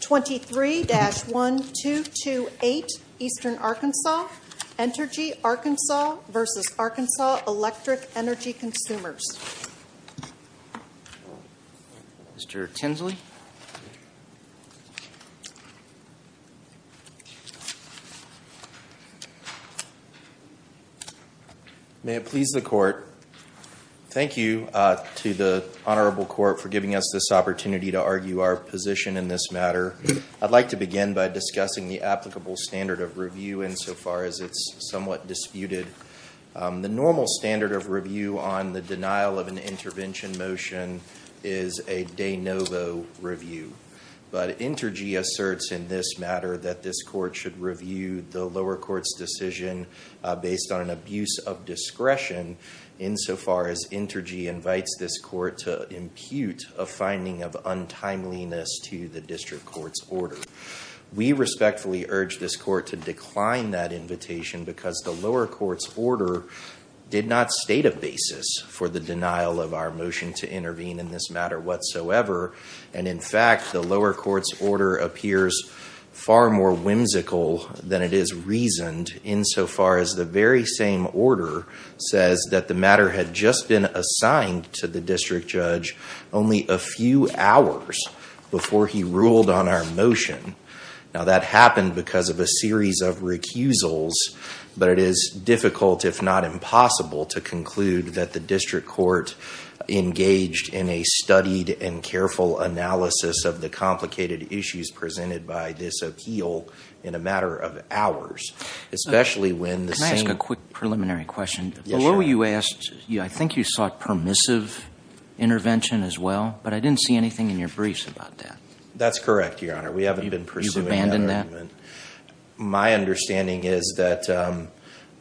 23-1228 Eastern Arkansas, Entergy Arkansas v. Arkansas Electric Energy Consumers, Inc. Mr. Tinsley? May it please the court, thank you to the honorable court for giving us this opportunity to argue our position in this matter. I'd like to begin by discussing the applicable standard of review insofar as it's somewhat disputed. The normal standard of review on the denial of an intervention motion is a de novo review, but Entergy asserts in this matter that this court should review the lower court's decision based on an abuse of discretion insofar as Entergy invites this court to impute a finding of untimeliness to the district court's order. We respectfully urge this court to decline that invitation because the lower court's order did not state a basis for the denial of our motion to intervene in this matter whatsoever, and in fact the lower court's order appears far more whimsical than it is reasoned insofar as the very same order says that the matter had just been assigned to the district judge only a few hours before he ruled on our motion. Now that happened because of a series of recusals, but it is difficult if not impossible to conclude that the district court engaged in a studied and careful analysis of the complicated issues presented by this appeal in a matter of hours, especially when the same... Can I ask a quick preliminary question? Yes, Your Honor. I think you sought permissive intervention as well, but I didn't see anything in your briefs about that. That's correct, Your Honor. We haven't been pursuing that argument. You've abandoned that? My understanding is that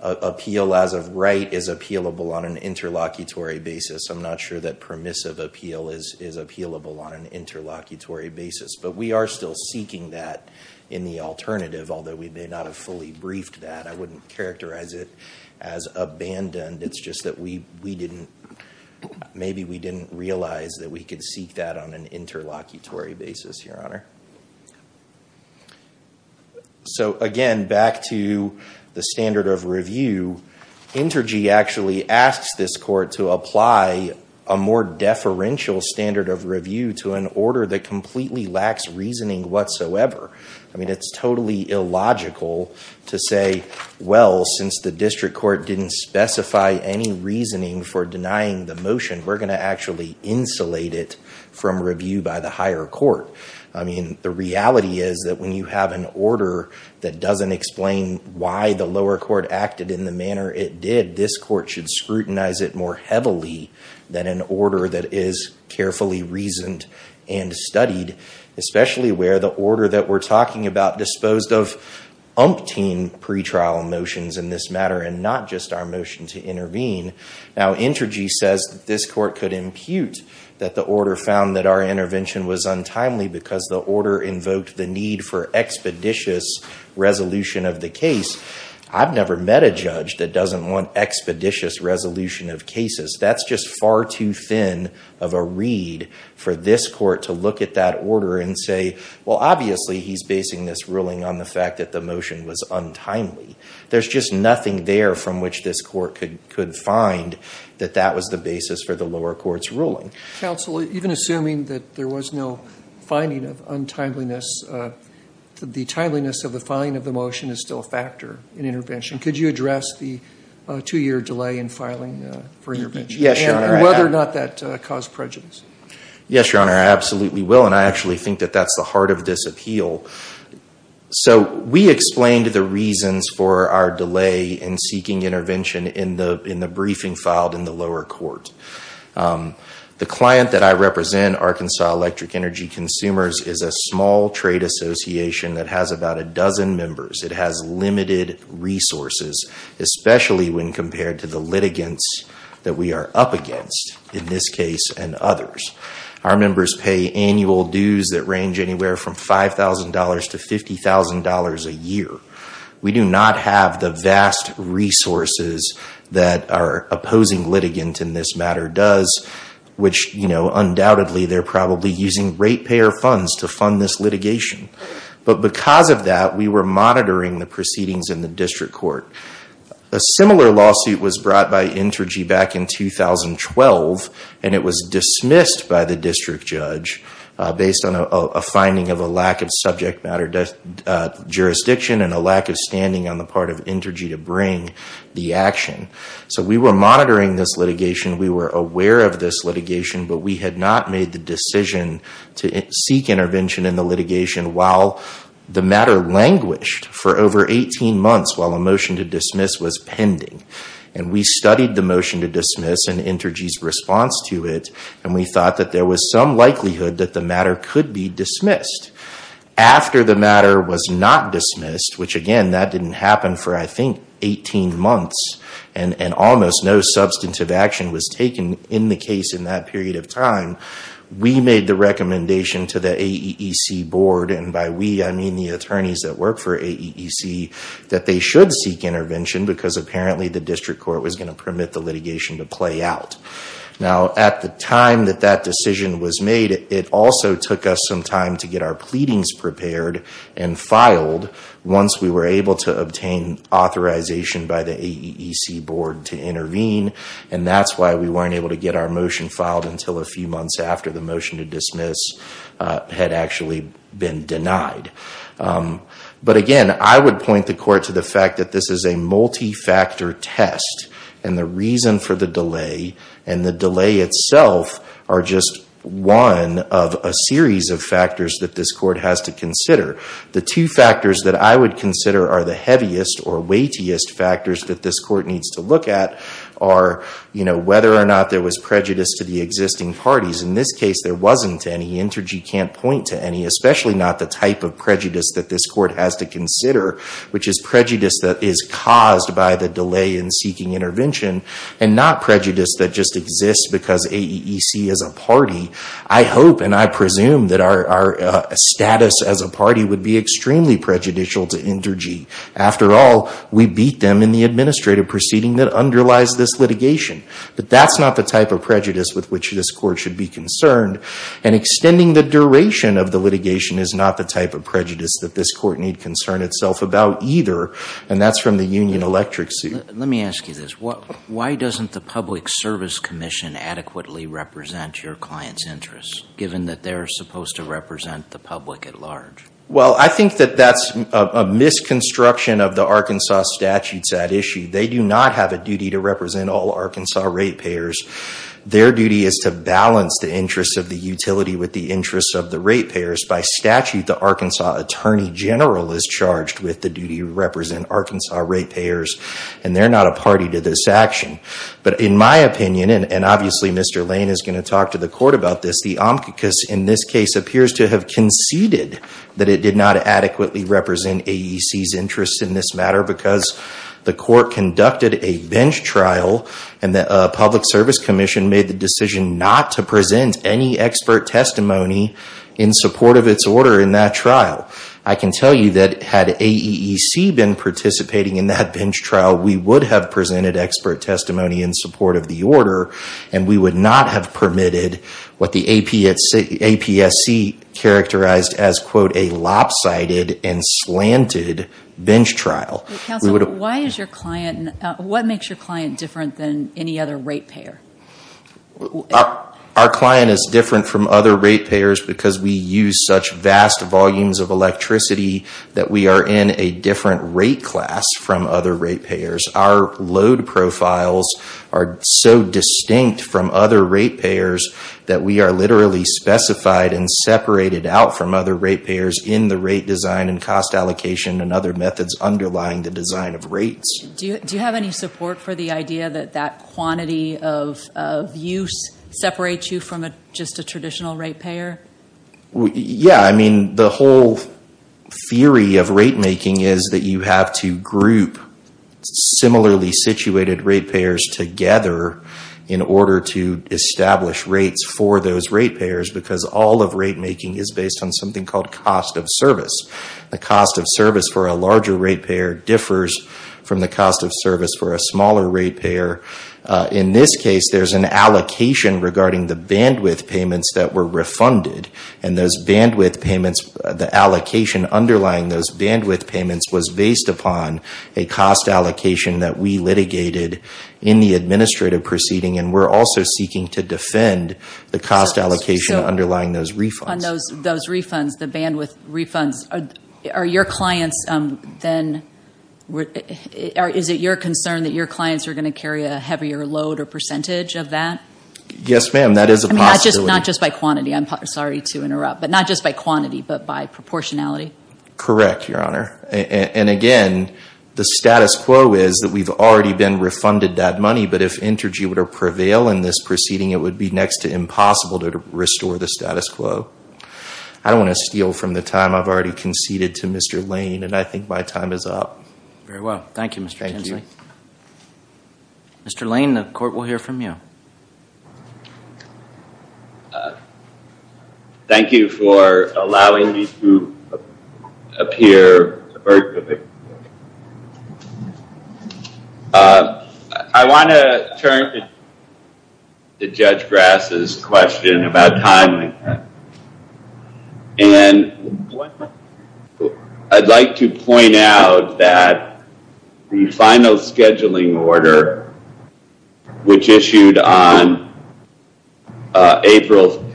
appeal as of right is appealable on an interlocutory basis. I'm not sure that permissive appeal is appealable on an interlocutory basis, but we are still seeking that in the alternative, although we may not have fully briefed that. I wouldn't characterize it as abandoned. It's just that we didn't... Maybe we didn't realize that we could seek that on an interlocutory basis, Your Honor. So again, back to the standard of review, Intergy actually asks this court to apply a more deferential standard of review to an order that completely lacks reasoning whatsoever. I mean, it's totally illogical to say, well, since the district court didn't specify any reasoning for denying the motion, we're going to actually insulate it from review by the higher court. I mean, the reality is that when you have an order that doesn't explain why the lower court acted in the manner it did, this court should scrutinize it more heavily than an order that is carefully reasoned and studied, especially where the order that we're talking about disposed of umpteen pretrial motions in this matter Now, Intergy says this court could impute that the order found that our intervention was untimely because the order invoked the need for expeditious resolution of the case. I've never met a judge that doesn't want expeditious resolution of cases. That's just far too thin of a read for this court to look at that order and say, well, obviously he's basing this ruling on the fact that the motion was untimely. There's just nothing there from which this court could find that that was the basis for the lower court's ruling. Counsel, even assuming that there was no finding of untimeliness, the timeliness of the filing of the motion is still a factor in intervention. Could you address the two-year delay in filing for intervention? Yes, Your Honor. And whether or not that caused prejudice? Yes, Your Honor, I absolutely will. And I actually think that that's the heart of this appeal. So we explained the reasons for our delay in seeking intervention in the briefing filed in the lower court. The client that I represent, Arkansas Electric Energy Consumers, is a small trade association that has about a dozen members. It has limited resources, especially when compared to the litigants that we are up against in this case and others. Our members pay annual dues that range anywhere from $5,000 to $50,000 a year. We do not have the vast resources that our opposing litigant in this matter does, which undoubtedly they're probably using ratepayer funds to fund this litigation. But because of that, we were monitoring the proceedings in the district court. A similar lawsuit was brought by Intergy back in 2012, and it was dismissed by the district judge based on a finding of a lack of subject matter jurisdiction and a lack of standing on the part of Intergy to bring the action. So we were monitoring this litigation. We were aware of this litigation, but we had not made the decision to seek intervention in the litigation while the matter languished for over 18 months while a motion to dismiss was pending. And we studied the motion to dismiss and Intergy's response to it, and we thought that there was some likelihood that the matter could be dismissed. After the matter was not dismissed, which, again, that didn't happen for, I think, 18 months, and almost no substantive action was taken in the case in that period of time, we made the recommendation to the AEEC board, and by we I mean the attorneys that work for AEEC, that they should seek intervention because apparently the district court was going to permit the litigation to play out. Now, at the time that that decision was made, it also took us some time to get our pleadings prepared and filed once we were able to obtain authorization by the AEEC board to intervene, and that's why we weren't able to get our motion filed until a few months after the motion to dismiss had actually been denied. But again, I would point the court to the fact that this is a multi-factor test, and the reason for the delay and the delay itself are just one of a series of factors that this court has to consider. The two factors that I would consider are the heaviest or weightiest factors that this court needs to look at are, you know, whether or not there was prejudice to the existing parties. In this case, there wasn't any. Intergy can't point to any, especially not the type of prejudice that this court has to consider, which is prejudice that is caused by the delay in seeking intervention and not prejudice that just exists because AEEC is a party. I hope and I presume that our status as a party would be extremely prejudicial to Intergy. After all, we beat them in the administrative proceeding that underlies this litigation. But that's not the type of prejudice with which this court should be concerned, and extending the duration of the litigation is not the type of prejudice that this court need concern itself about either, and that's from the union electric seat. Let me ask you this. Why doesn't the Public Service Commission adequately represent your clients' interests, given that they're supposed to represent the public at large? Well, I think that that's a misconstruction of the Arkansas statutes at issue. They do not have a duty to represent all Arkansas rate payers. Their duty is to balance the interests of the utility with the interests of the rate payers. By statute, the Arkansas Attorney General is charged with the duty to represent Arkansas rate payers, and they're not a party to this action. But in my opinion, and obviously Mr. Lane is going to talk to the court about this, the amicus in this case appears to have conceded that it did not adequately represent AEC's interests in this matter because the court conducted a bench trial, and the Public Service Commission made the decision not to present any expert testimony in support of its order in that trial. I can tell you that had AEC been participating in that bench trial, we would have presented expert testimony in support of the order, and we would not have permitted what the APSC characterized as, quote, a lopsided and slanted bench trial. Councilman, what makes your client different than any other rate payer? Our client is different from other rate payers because we use such vast volumes of electricity that we are in a different rate class from other rate payers. Our load profiles are so distinct from other rate payers that we are literally specified and separated out from other rate payers in the rate design and cost allocation and other methods underlying the design of rates. Do you have any support for the idea that that quantity of use separates you from just a traditional rate payer? The whole theory of rate making is that you have to group similarly situated rate payers together in order to establish rates for those rate payers because all of rate making is based on something called cost of service. The cost of service for a larger rate payer differs from the cost of service for a smaller rate payer. In this case, there's an allocation regarding the bandwidth payments that were refunded, and the allocation underlying those bandwidth payments was based upon a cost allocation that we litigated in the administrative proceeding, and we're also seeking to defend the cost allocation underlying those refunds. On those refunds, the bandwidth refunds, are your clients then, is it your concern that your clients are going to carry a heavier load or percentage of that? Yes, ma'am, that is a possibility. I mean, not just by quantity. I'm sorry to interrupt. But not just by quantity, but by proportionality? Correct, Your Honor. And again, the status quo is that we've already been refunded that money, but if Intergy were to prevail in this proceeding, it would be next to impossible to restore the status quo. I don't want to steal from the time I've already conceded to Mr. Lane, and I think my time is up. Very well. Thank you, Mr. Tinsley. Mr. Lane, the court will hear from you. Thank you for allowing me to appear. I want to turn to Judge Grass's question about timing. And I'd like to point out that the final scheduling order, which issued on April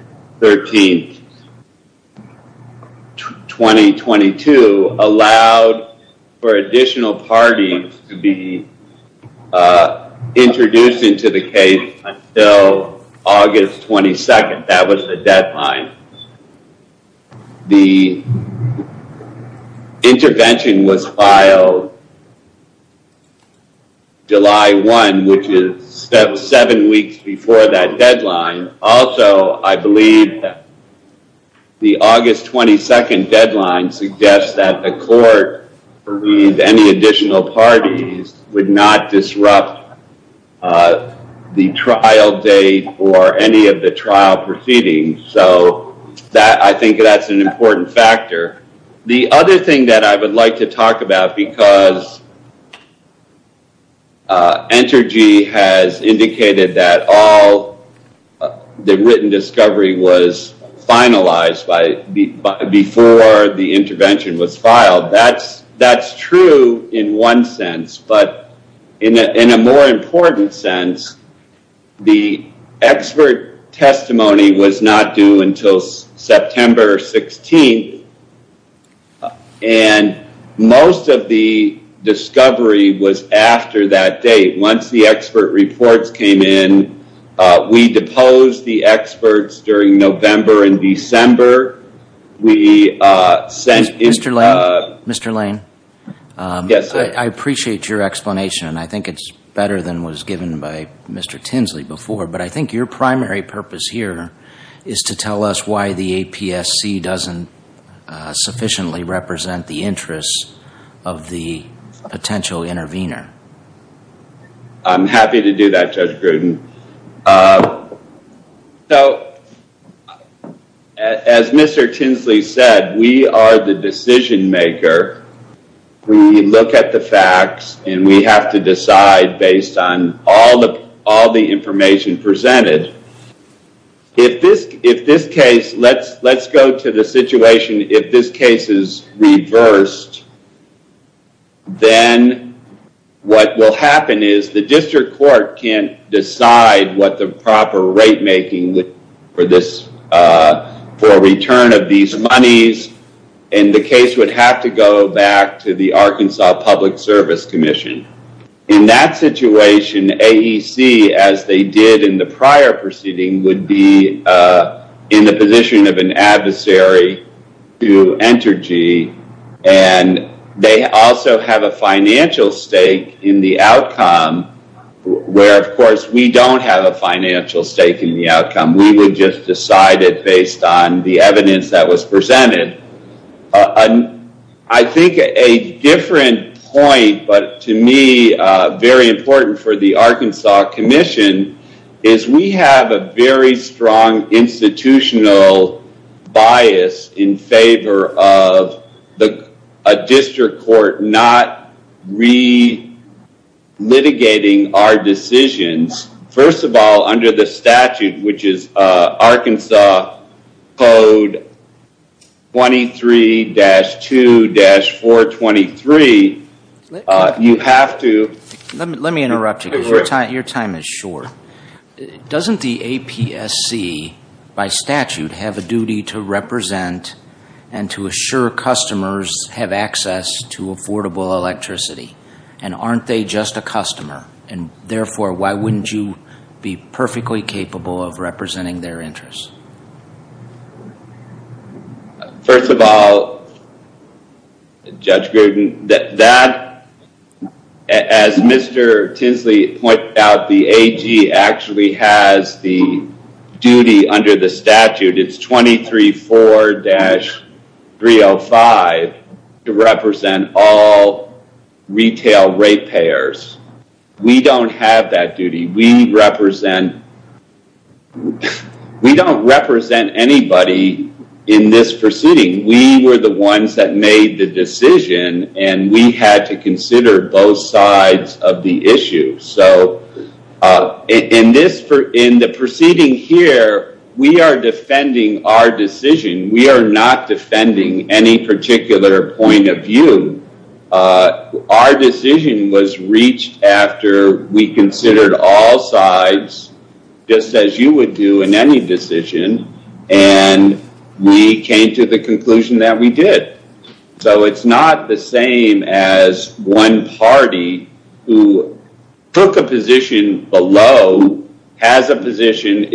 13th, 2022, allowed for additional parties to be introduced into the case until August 22nd. That was the deadline. The intervention was filed July 1, which is seven weeks before that deadline. Also, I believe that the August 22nd deadline suggests that the court, any additional parties would not disrupt the trial date or any of the trial proceedings. So I think that's an important factor. The other thing that I would like to talk about, because Intergy has indicated that all the written discovery was finalized before the intervention was filed. That's true in one sense, but in a more important sense, the expert testimony was not due until September 16th, and most of the discovery was after that date. Once the expert reports came in, we deposed the experts during November and December. Mr. Lane, I appreciate your explanation. I think it's better than what was given by Mr. Tinsley before, but I think your primary purpose here is to tell us why the APSC doesn't sufficiently represent the interests of the potential intervener. I'm happy to do that, Judge Gruden. As Mr. Tinsley said, we are the decision maker. We look at the facts, and we have to decide based on all the information presented. If this case, let's go to the situation, if this case is reversed, then what will happen is the district court can't decide what the proper rate making for return of these monies, and the case would have to go back to the Arkansas Public Service Commission. In that situation, AEC, as they did in the prior proceeding, would be in the position of an adversary to Entergy, and they also have a financial stake in the outcome, where, of course, we don't have a financial stake in the outcome. We would just decide it based on the evidence that was presented. I think a different point, but to me, very important for the Arkansas Commission, is we have a very strong institutional bias in favor of a district court not re-litigating our decisions. First of all, under the statute, which is Arkansas Code 23-2-423, you have to... Let me interrupt you, because your time is short. Doesn't the APSC, by statute, have a duty to represent and to assure customers have access to affordable electricity? Aren't they just a customer? Therefore, why wouldn't you be perfectly capable of representing their interests? First of all, Judge Gruden, as Mr. Tinsley pointed out, the AG actually has the duty under the statute. It's 23-4-305 to represent all retail rate payers. We don't have that duty. We don't represent anybody in this proceeding. We were the ones that made the decision, and we had to consider both sides of the issue. In the proceeding here, we are defending our decision. We are not defending any particular point of view. Our decision was reached after we considered all sides, just as you would do in any decision, and we came to the conclusion that we did. It's not the same as one party who took a position below, has a position.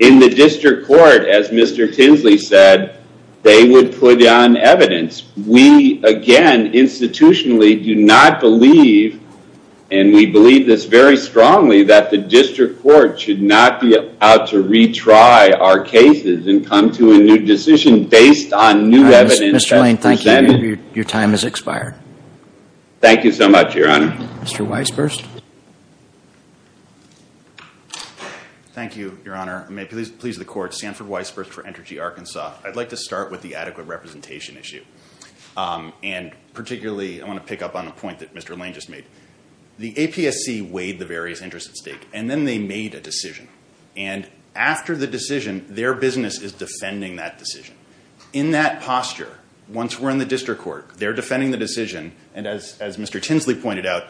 In the district court, as Mr. Tinsley said, they would put on evidence. We, again, institutionally do not believe, and we believe this very strongly, that the district court should not be allowed to retry our cases and come to a new decision based on new evidence. Mr. Lane, thank you. Your time has expired. Thank you so much, Your Honor. Mr. Weisburst. Thank you, Your Honor. I may please the court. Sanford Weisburst for Entergy Arkansas. I'd like to start with the adequate representation issue, and particularly I want to pick up on a point that Mr. Lane just made. The APSC weighed the various interests at stake, and then they made a decision, and after the decision, their business is defending that decision. In that posture, once we're in the district court, they're defending the decision, and as Mr. Tinsley pointed out,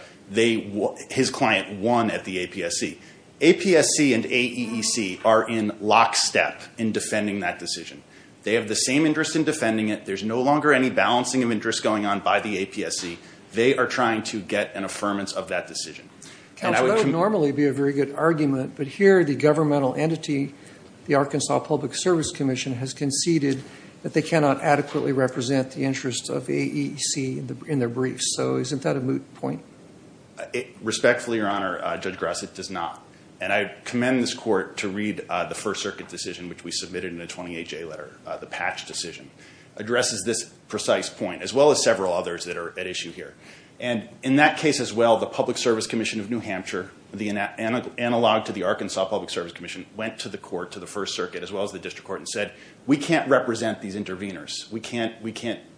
his client won at the APSC. APSC and AEEC are in lockstep in defending that decision. They have the same interest in defending it. There's no longer any balancing of interests going on by the APSC. They are trying to get an affirmance of that decision. That would normally be a very good argument, but here the governmental entity, the Arkansas Public Service Commission, has conceded that they cannot adequately represent the interests of AEEC in their briefs. So isn't that a moot point? Respectfully, Your Honor, Judge Grassley, it does not. And I commend this court to read the First Circuit decision, which we submitted in the 28-J letter, the patch decision. It addresses this precise point, as well as several others that are at issue here. And in that case as well, the Public Service Commission of New Hampshire, the analog to the Arkansas Public Service Commission, went to the court, to the First Circuit, as well as the district court, and said, we can't represent these interveners. We can't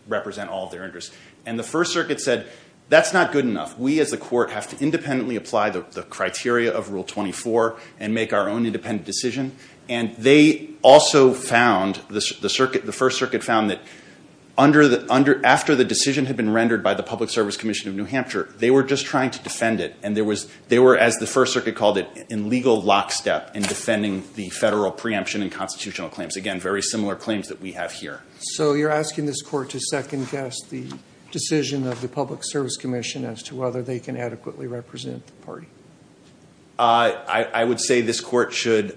represent all of their interests. And the First Circuit said, that's not good enough. We as a court have to independently apply the criteria of Rule 24 and make our own independent decision. And they also found, the First Circuit found, that after the decision had been rendered by the Public Service Commission of New Hampshire, they were just trying to defend it, and they were, as the First Circuit called it, in legal lockstep in defending the federal preemption and constitutional claims. Again, very similar claims that we have here. So you're asking this court to second-guess the decision of the Public Service Commission as to whether they can adequately represent the party? I would say this court should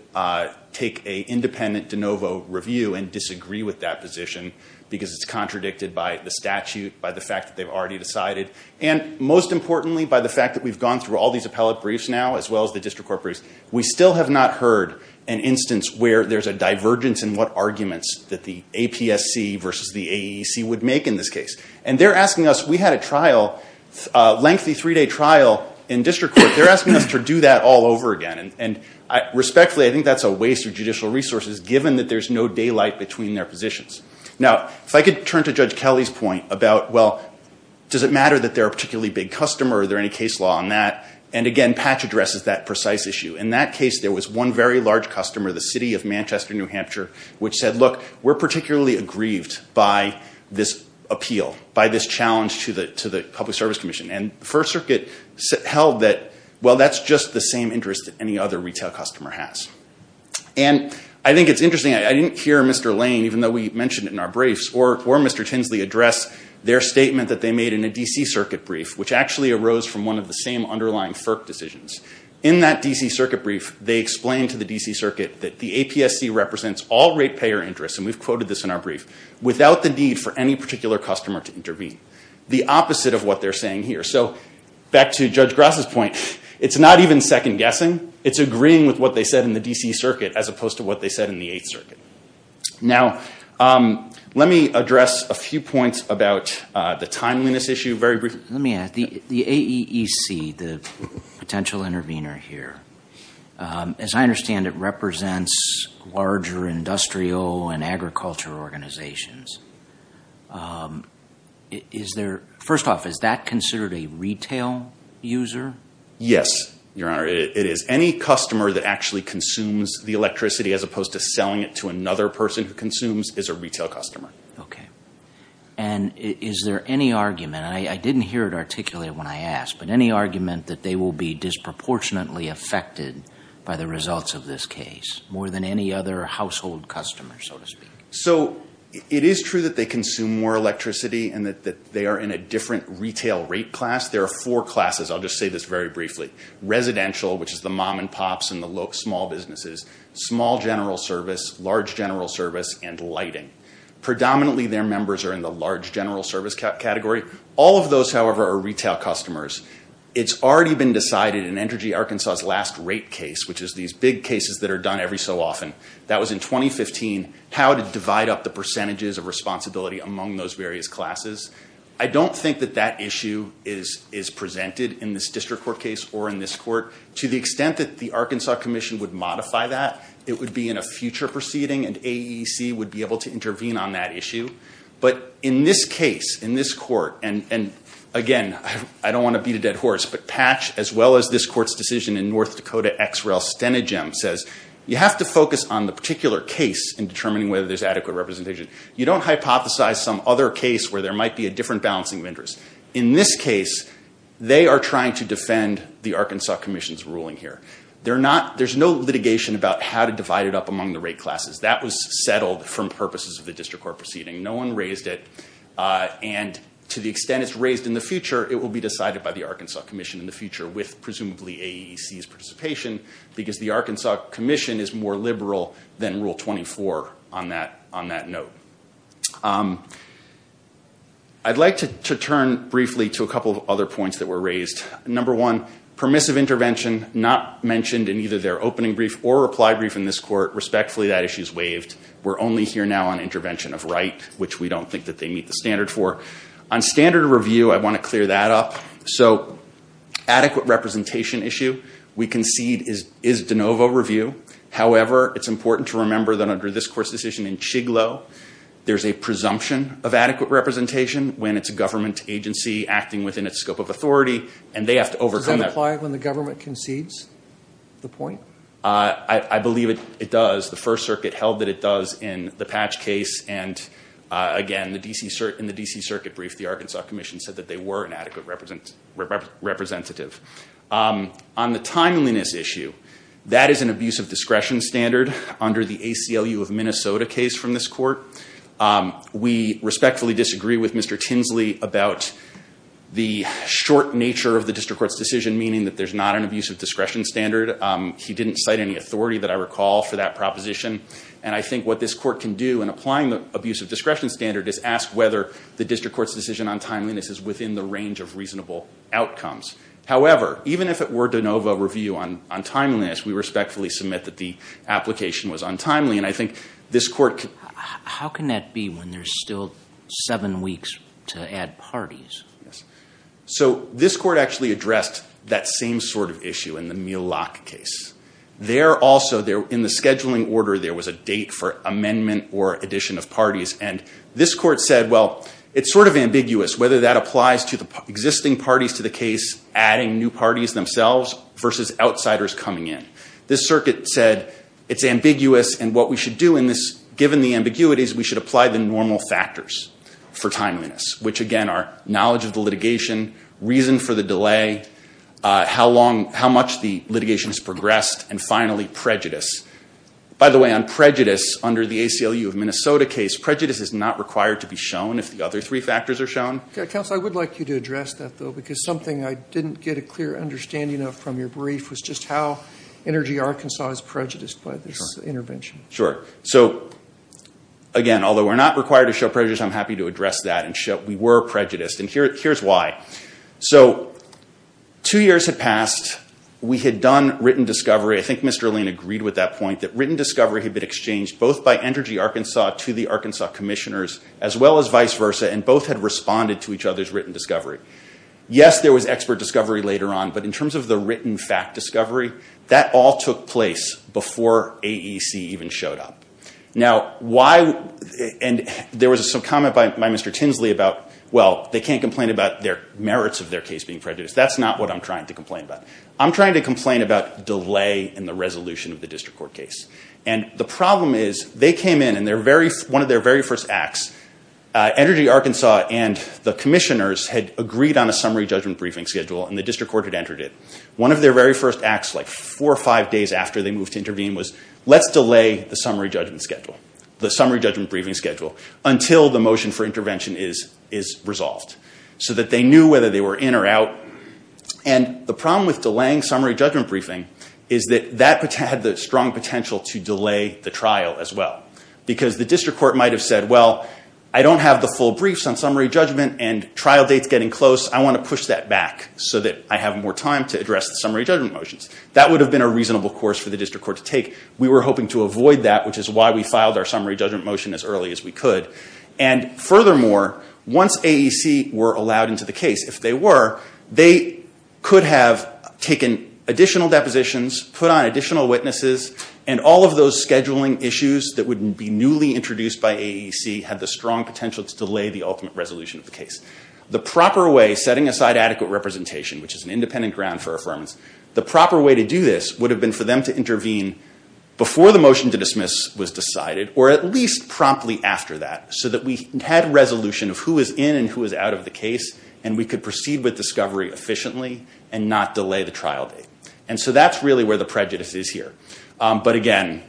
take an independent de novo review and disagree with that position, because it's contradicted by the statute, by the fact that they've already decided. And most importantly, by the fact that we've gone through all these appellate briefs now, as well as the district court briefs, we still have not heard an instance where there's a divergence in what arguments that the APSC versus the AEC would make in this case. And they're asking us, we had a trial, a lengthy three-day trial in district court. They're asking us to do that all over again. And respectfully, I think that's a waste of judicial resources, given that there's no daylight between their positions. Now, if I could turn to Judge Kelly's point about, well, does it matter that they're a particularly big customer? Are there any case law on that? And again, Patch addresses that precise issue. In that case, there was one very large customer, the city of Manchester, New Hampshire, which said, look, we're particularly aggrieved by this appeal, by this challenge to the Public Service Commission. And the First Circuit held that, well, that's just the same interest that any other retail customer has. And I think it's interesting. I didn't hear Mr. Lane, even though we mentioned it in our briefs, or Mr. Tinsley address their statement that they made in a D.C. Circuit brief, which actually arose from one of the same underlying FERC decisions. In that D.C. Circuit brief, they explained to the D.C. Circuit that the APSC represents all ratepayer interests, and we've quoted this in our brief, without the need for any particular customer to intervene, the opposite of what they're saying here. So back to Judge Gross's point, it's not even second-guessing. It's agreeing with what they said in the D.C. Circuit, as opposed to what they said in the Eighth Circuit. Now, let me address a few points about the timeliness issue very briefly. Let me add. The AEEC, the potential intervener here, as I understand it, represents larger industrial and agriculture organizations. First off, is that considered a retail user? Yes. Your Honor, it is. Any customer that actually consumes the electricity, as opposed to selling it to another person who consumes, is a retail customer. Okay. And is there any argument, and I didn't hear it articulated when I asked, but any argument that they will be disproportionately affected by the results of this case, more than any other household customer, so to speak? So it is true that they consume more electricity and that they are in a different retail rate class. There are four classes. I'll just say this very briefly. Residential, which is the mom and pops and the small businesses, small general service, large general service, and lighting. Predominantly, their members are in the large general service category. All of those, however, are retail customers. It's already been decided in Energy Arkansas's last rate case, which is these big cases that are done every so often, that was in 2015, how to divide up the percentages of responsibility among those various classes. I don't think that that issue is presented in this district court case or in this court. To the extent that the Arkansas Commission would modify that, it would be in a future proceeding, and AEC would be able to intervene on that issue. But in this case, in this court, and, again, I don't want to beat a dead horse, but Patch, as well as this court's decision in North Dakota X-Rail Stenogem, says, you have to focus on the particular case in determining whether there's adequate representation. You don't hypothesize some other case where there might be a different balancing of interests. In this case, they are trying to defend the Arkansas Commission's ruling here. There's no litigation about how to divide it up among the rate classes. That was settled from purposes of the district court proceeding. No one raised it, and to the extent it's raised in the future, it will be decided by the Arkansas Commission in the future with presumably AEC's participation because the Arkansas Commission is more liberal than Rule 24 on that note. I'd like to turn briefly to a couple of other points that were raised. Number one, permissive intervention not mentioned in either their opening brief or reply brief in this court. Respectfully, that issue is waived. We're only here now on intervention of right, which we don't think that they meet the standard for. On standard review, I want to clear that up. Adequate representation issue we concede is de novo review. However, it's important to remember that under this court's decision in Chiglo, there's a presumption of adequate representation when it's a government agency acting within its scope of authority, and they have to overcome that. Does that apply when the government concedes the point? I believe it does. The First Circuit held that it does in the Patch case, and, again, in the D.C. Circuit brief, the Arkansas Commission said that they were an adequate representative. On the timeliness issue, that is an abuse of discretion standard under the ACLU of Minnesota case from this court. We respectfully disagree with Mr. Tinsley about the short nature of the district court's decision, meaning that there's not an abuse of discretion standard. He didn't cite any authority that I recall for that proposition. And I think what this court can do in applying the abuse of discretion standard is ask whether the district court's decision on timeliness is within the range of reasonable outcomes. However, even if it were de novo review on timeliness, we respectfully submit that the application was untimely, and I think this court can- How can that be when there's still seven weeks to add parties? So this court actually addressed that same sort of issue in the Mule Lock case. There also, in the scheduling order, there was a date for amendment or addition of parties, and this court said, well, it's sort of ambiguous whether that applies to the existing parties to the case, adding new parties themselves versus outsiders coming in. This circuit said it's ambiguous, and what we should do in this, given the ambiguities, we should apply the normal factors for timeliness, which, again, are knowledge of the litigation, reason for the delay, how much the litigation has progressed, and finally, prejudice. By the way, on prejudice, under the ACLU of Minnesota case, prejudice is not required to be shown if the other three factors are shown. Counsel, I would like you to address that, though, because something I didn't get a clear understanding of from your brief was just how Energy Arkansas is prejudiced by this intervention. Sure. So, again, although we're not required to show prejudice, I'm happy to address that and show we were prejudiced. And here's why. So two years had passed. We had done written discovery. I think Mr. Lane agreed with that point, that written discovery had been exchanged both by Energy Arkansas to the Arkansas commissioners, as well as vice versa, and both had responded to each other's written discovery. Yes, there was expert discovery later on, but in terms of the written fact discovery, that all took place before AEC even showed up. Now, why – and there was some comment by Mr. Tinsley about, well, they can't complain about their merits of their case being prejudiced. That's not what I'm trying to complain about. I'm trying to complain about delay in the resolution of the district court case. And the problem is they came in, and one of their very first acts, Energy Arkansas and the commissioners had agreed on a summary judgment briefing schedule, and the district court had entered it. One of their very first acts, like four or five days after they moved to intervene, was let's delay the summary judgment schedule, the summary judgment briefing schedule, until the motion for intervention is resolved, so that they knew whether they were in or out. And the problem with delaying summary judgment briefing is that that had the strong potential to delay the trial as well, because the district court might have said, well, I don't have the full briefs on summary judgment, and trial date's getting close. I want to push that back so that I have more time to address the summary judgment motions. That would have been a reasonable course for the district court to take. We were hoping to avoid that, which is why we filed our summary judgment motion as early as we could. And furthermore, once AEC were allowed into the case, if they were, they could have taken additional depositions, put on additional witnesses, and all of those scheduling issues that would be newly introduced by AEC had the strong potential to delay the ultimate resolution of the case. The proper way, setting aside adequate representation, which is an independent ground for affirmance, the proper way to do this would have been for them to intervene before the motion to dismiss was decided, or at least promptly after that, so that we had resolution of who was in and who was out of the case, and we could proceed with discovery efficiently and not delay the trial date. And so that's really where the prejudice is here. But again,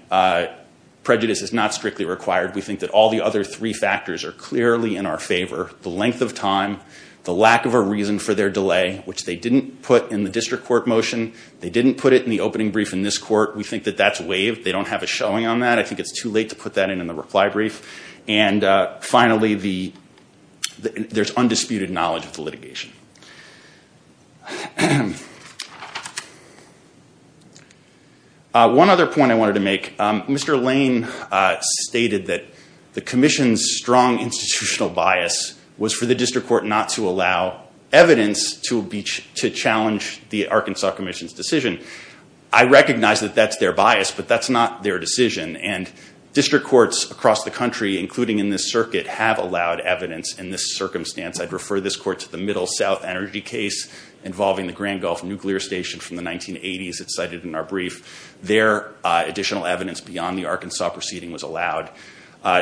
prejudice is not strictly required. We think that all the other three factors are clearly in our favor. The length of time, the lack of a reason for their delay, which they didn't put in the district court motion. They didn't put it in the opening brief in this court. We think that that's waived. They don't have a showing on that. I think it's too late to put that in in the reply brief. And finally, there's undisputed knowledge of the litigation. One other point I wanted to make. Mr. Lane stated that the commission's strong institutional bias was for the district court not to allow evidence to challenge the Arkansas Commission's decision. I recognize that that's their bias, but that's not their decision. And district courts across the country, including in this circuit, have allowed evidence in this circumstance. I'd refer this court to the Middle South Energy case involving the Grand Gulf Nuclear Station from the 1980s. It's cited in our brief. There, additional evidence beyond the Arkansas proceeding was allowed.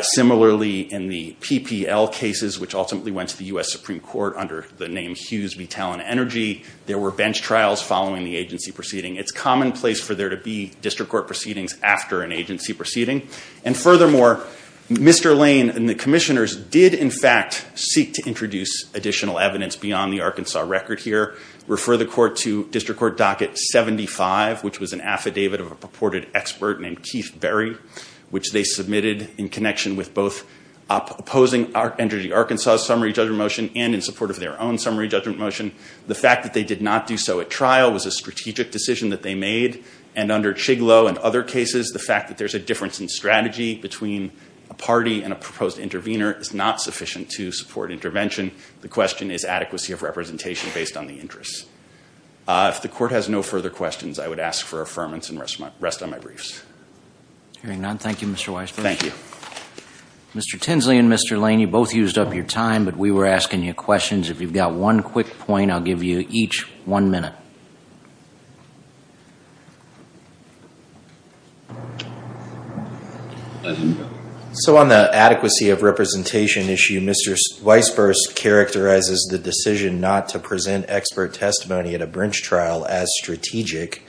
Similarly, in the PPL cases, which ultimately went to the U.S. Supreme Court under the name Hughes v. Talent Energy, there were bench trials following the agency proceeding. It's commonplace for there to be district court proceedings after an agency proceeding. And furthermore, Mr. Lane and the commissioners did, in fact, seek to introduce additional evidence beyond the Arkansas record here. Refer the court to district court docket 75, which was an affidavit of a purported expert named Keith Berry, which they submitted in connection with both opposing Energy Arkansas's summary judgment motion and in support of their own summary judgment motion. The fact that they did not do so at trial was a strategic decision that they made. And under Chiglow and other cases, the fact that there's a difference in strategy between a party and a proposed intervener is not sufficient to support intervention. The question is adequacy of representation based on the interests. If the court has no further questions, I would ask for affirmance and rest on my briefs. Hearing none, thank you, Mr. Weisberg. Thank you. Mr. Tinsley and Mr. Lane, you both used up your time, but we were asking you questions. If you've got one quick point, I'll give you each one minute. So on the adequacy of representation issue, Mr. Weisberg characterizes the decision not to present expert testimony at a brinch trial as strategic.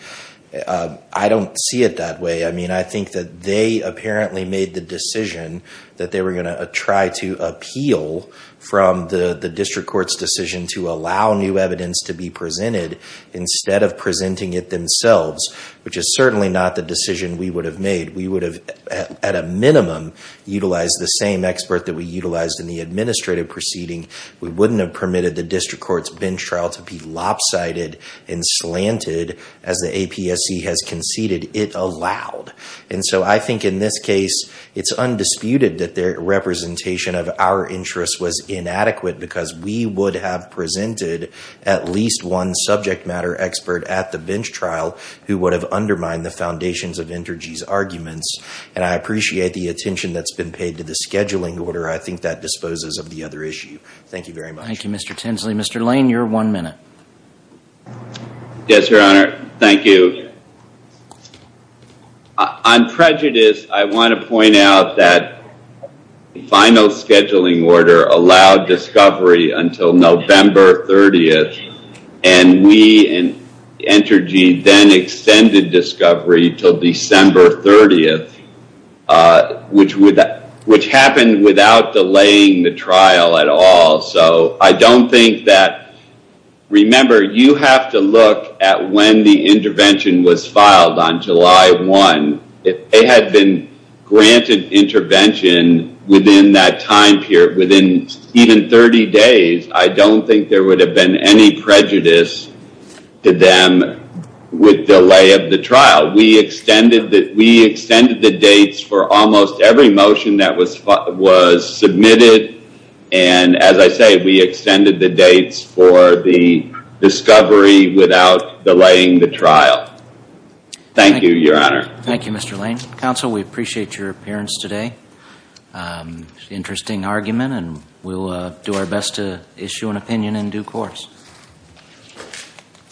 I don't see it that way. I mean, I think that they apparently made the decision that they were going to try to appeal from the district court's to allow new evidence to be presented instead of presenting it themselves, which is certainly not the decision we would have made. We would have, at a minimum, utilized the same expert that we utilized in the administrative proceeding. We wouldn't have permitted the district court's bench trial to be lopsided and slanted as the APSC has conceded it allowed. And so I think in this case, it's undisputed that their representation of our interest was inadequate because we would have presented at least one subject matter expert at the bench trial who would have undermined the foundations of Entergy's arguments. And I appreciate the attention that's been paid to the scheduling order. I think that disposes of the other issue. Thank you very much. Thank you, Mr. Tinsley. Mr. Lane, your one minute. Yes, Your Honor. Thank you. On prejudice, I want to point out that the final scheduling order allowed discovery until November 30th, and we in Entergy then extended discovery until December 30th, which happened without delaying the trial at all. So I don't think that... Remember, you have to look at when the intervention was filed on July 1. If they had been granted intervention within that time period, within even 30 days, I don't think there would have been any prejudice to them with delay of the trial. We extended the dates for almost every motion that was submitted. And as I say, we extended the dates for the discovery without delaying the trial. Thank you, Your Honor. Thank you, Mr. Lane. Counsel, we appreciate your appearance today. Interesting argument, and we'll do our best to issue an opinion in due course.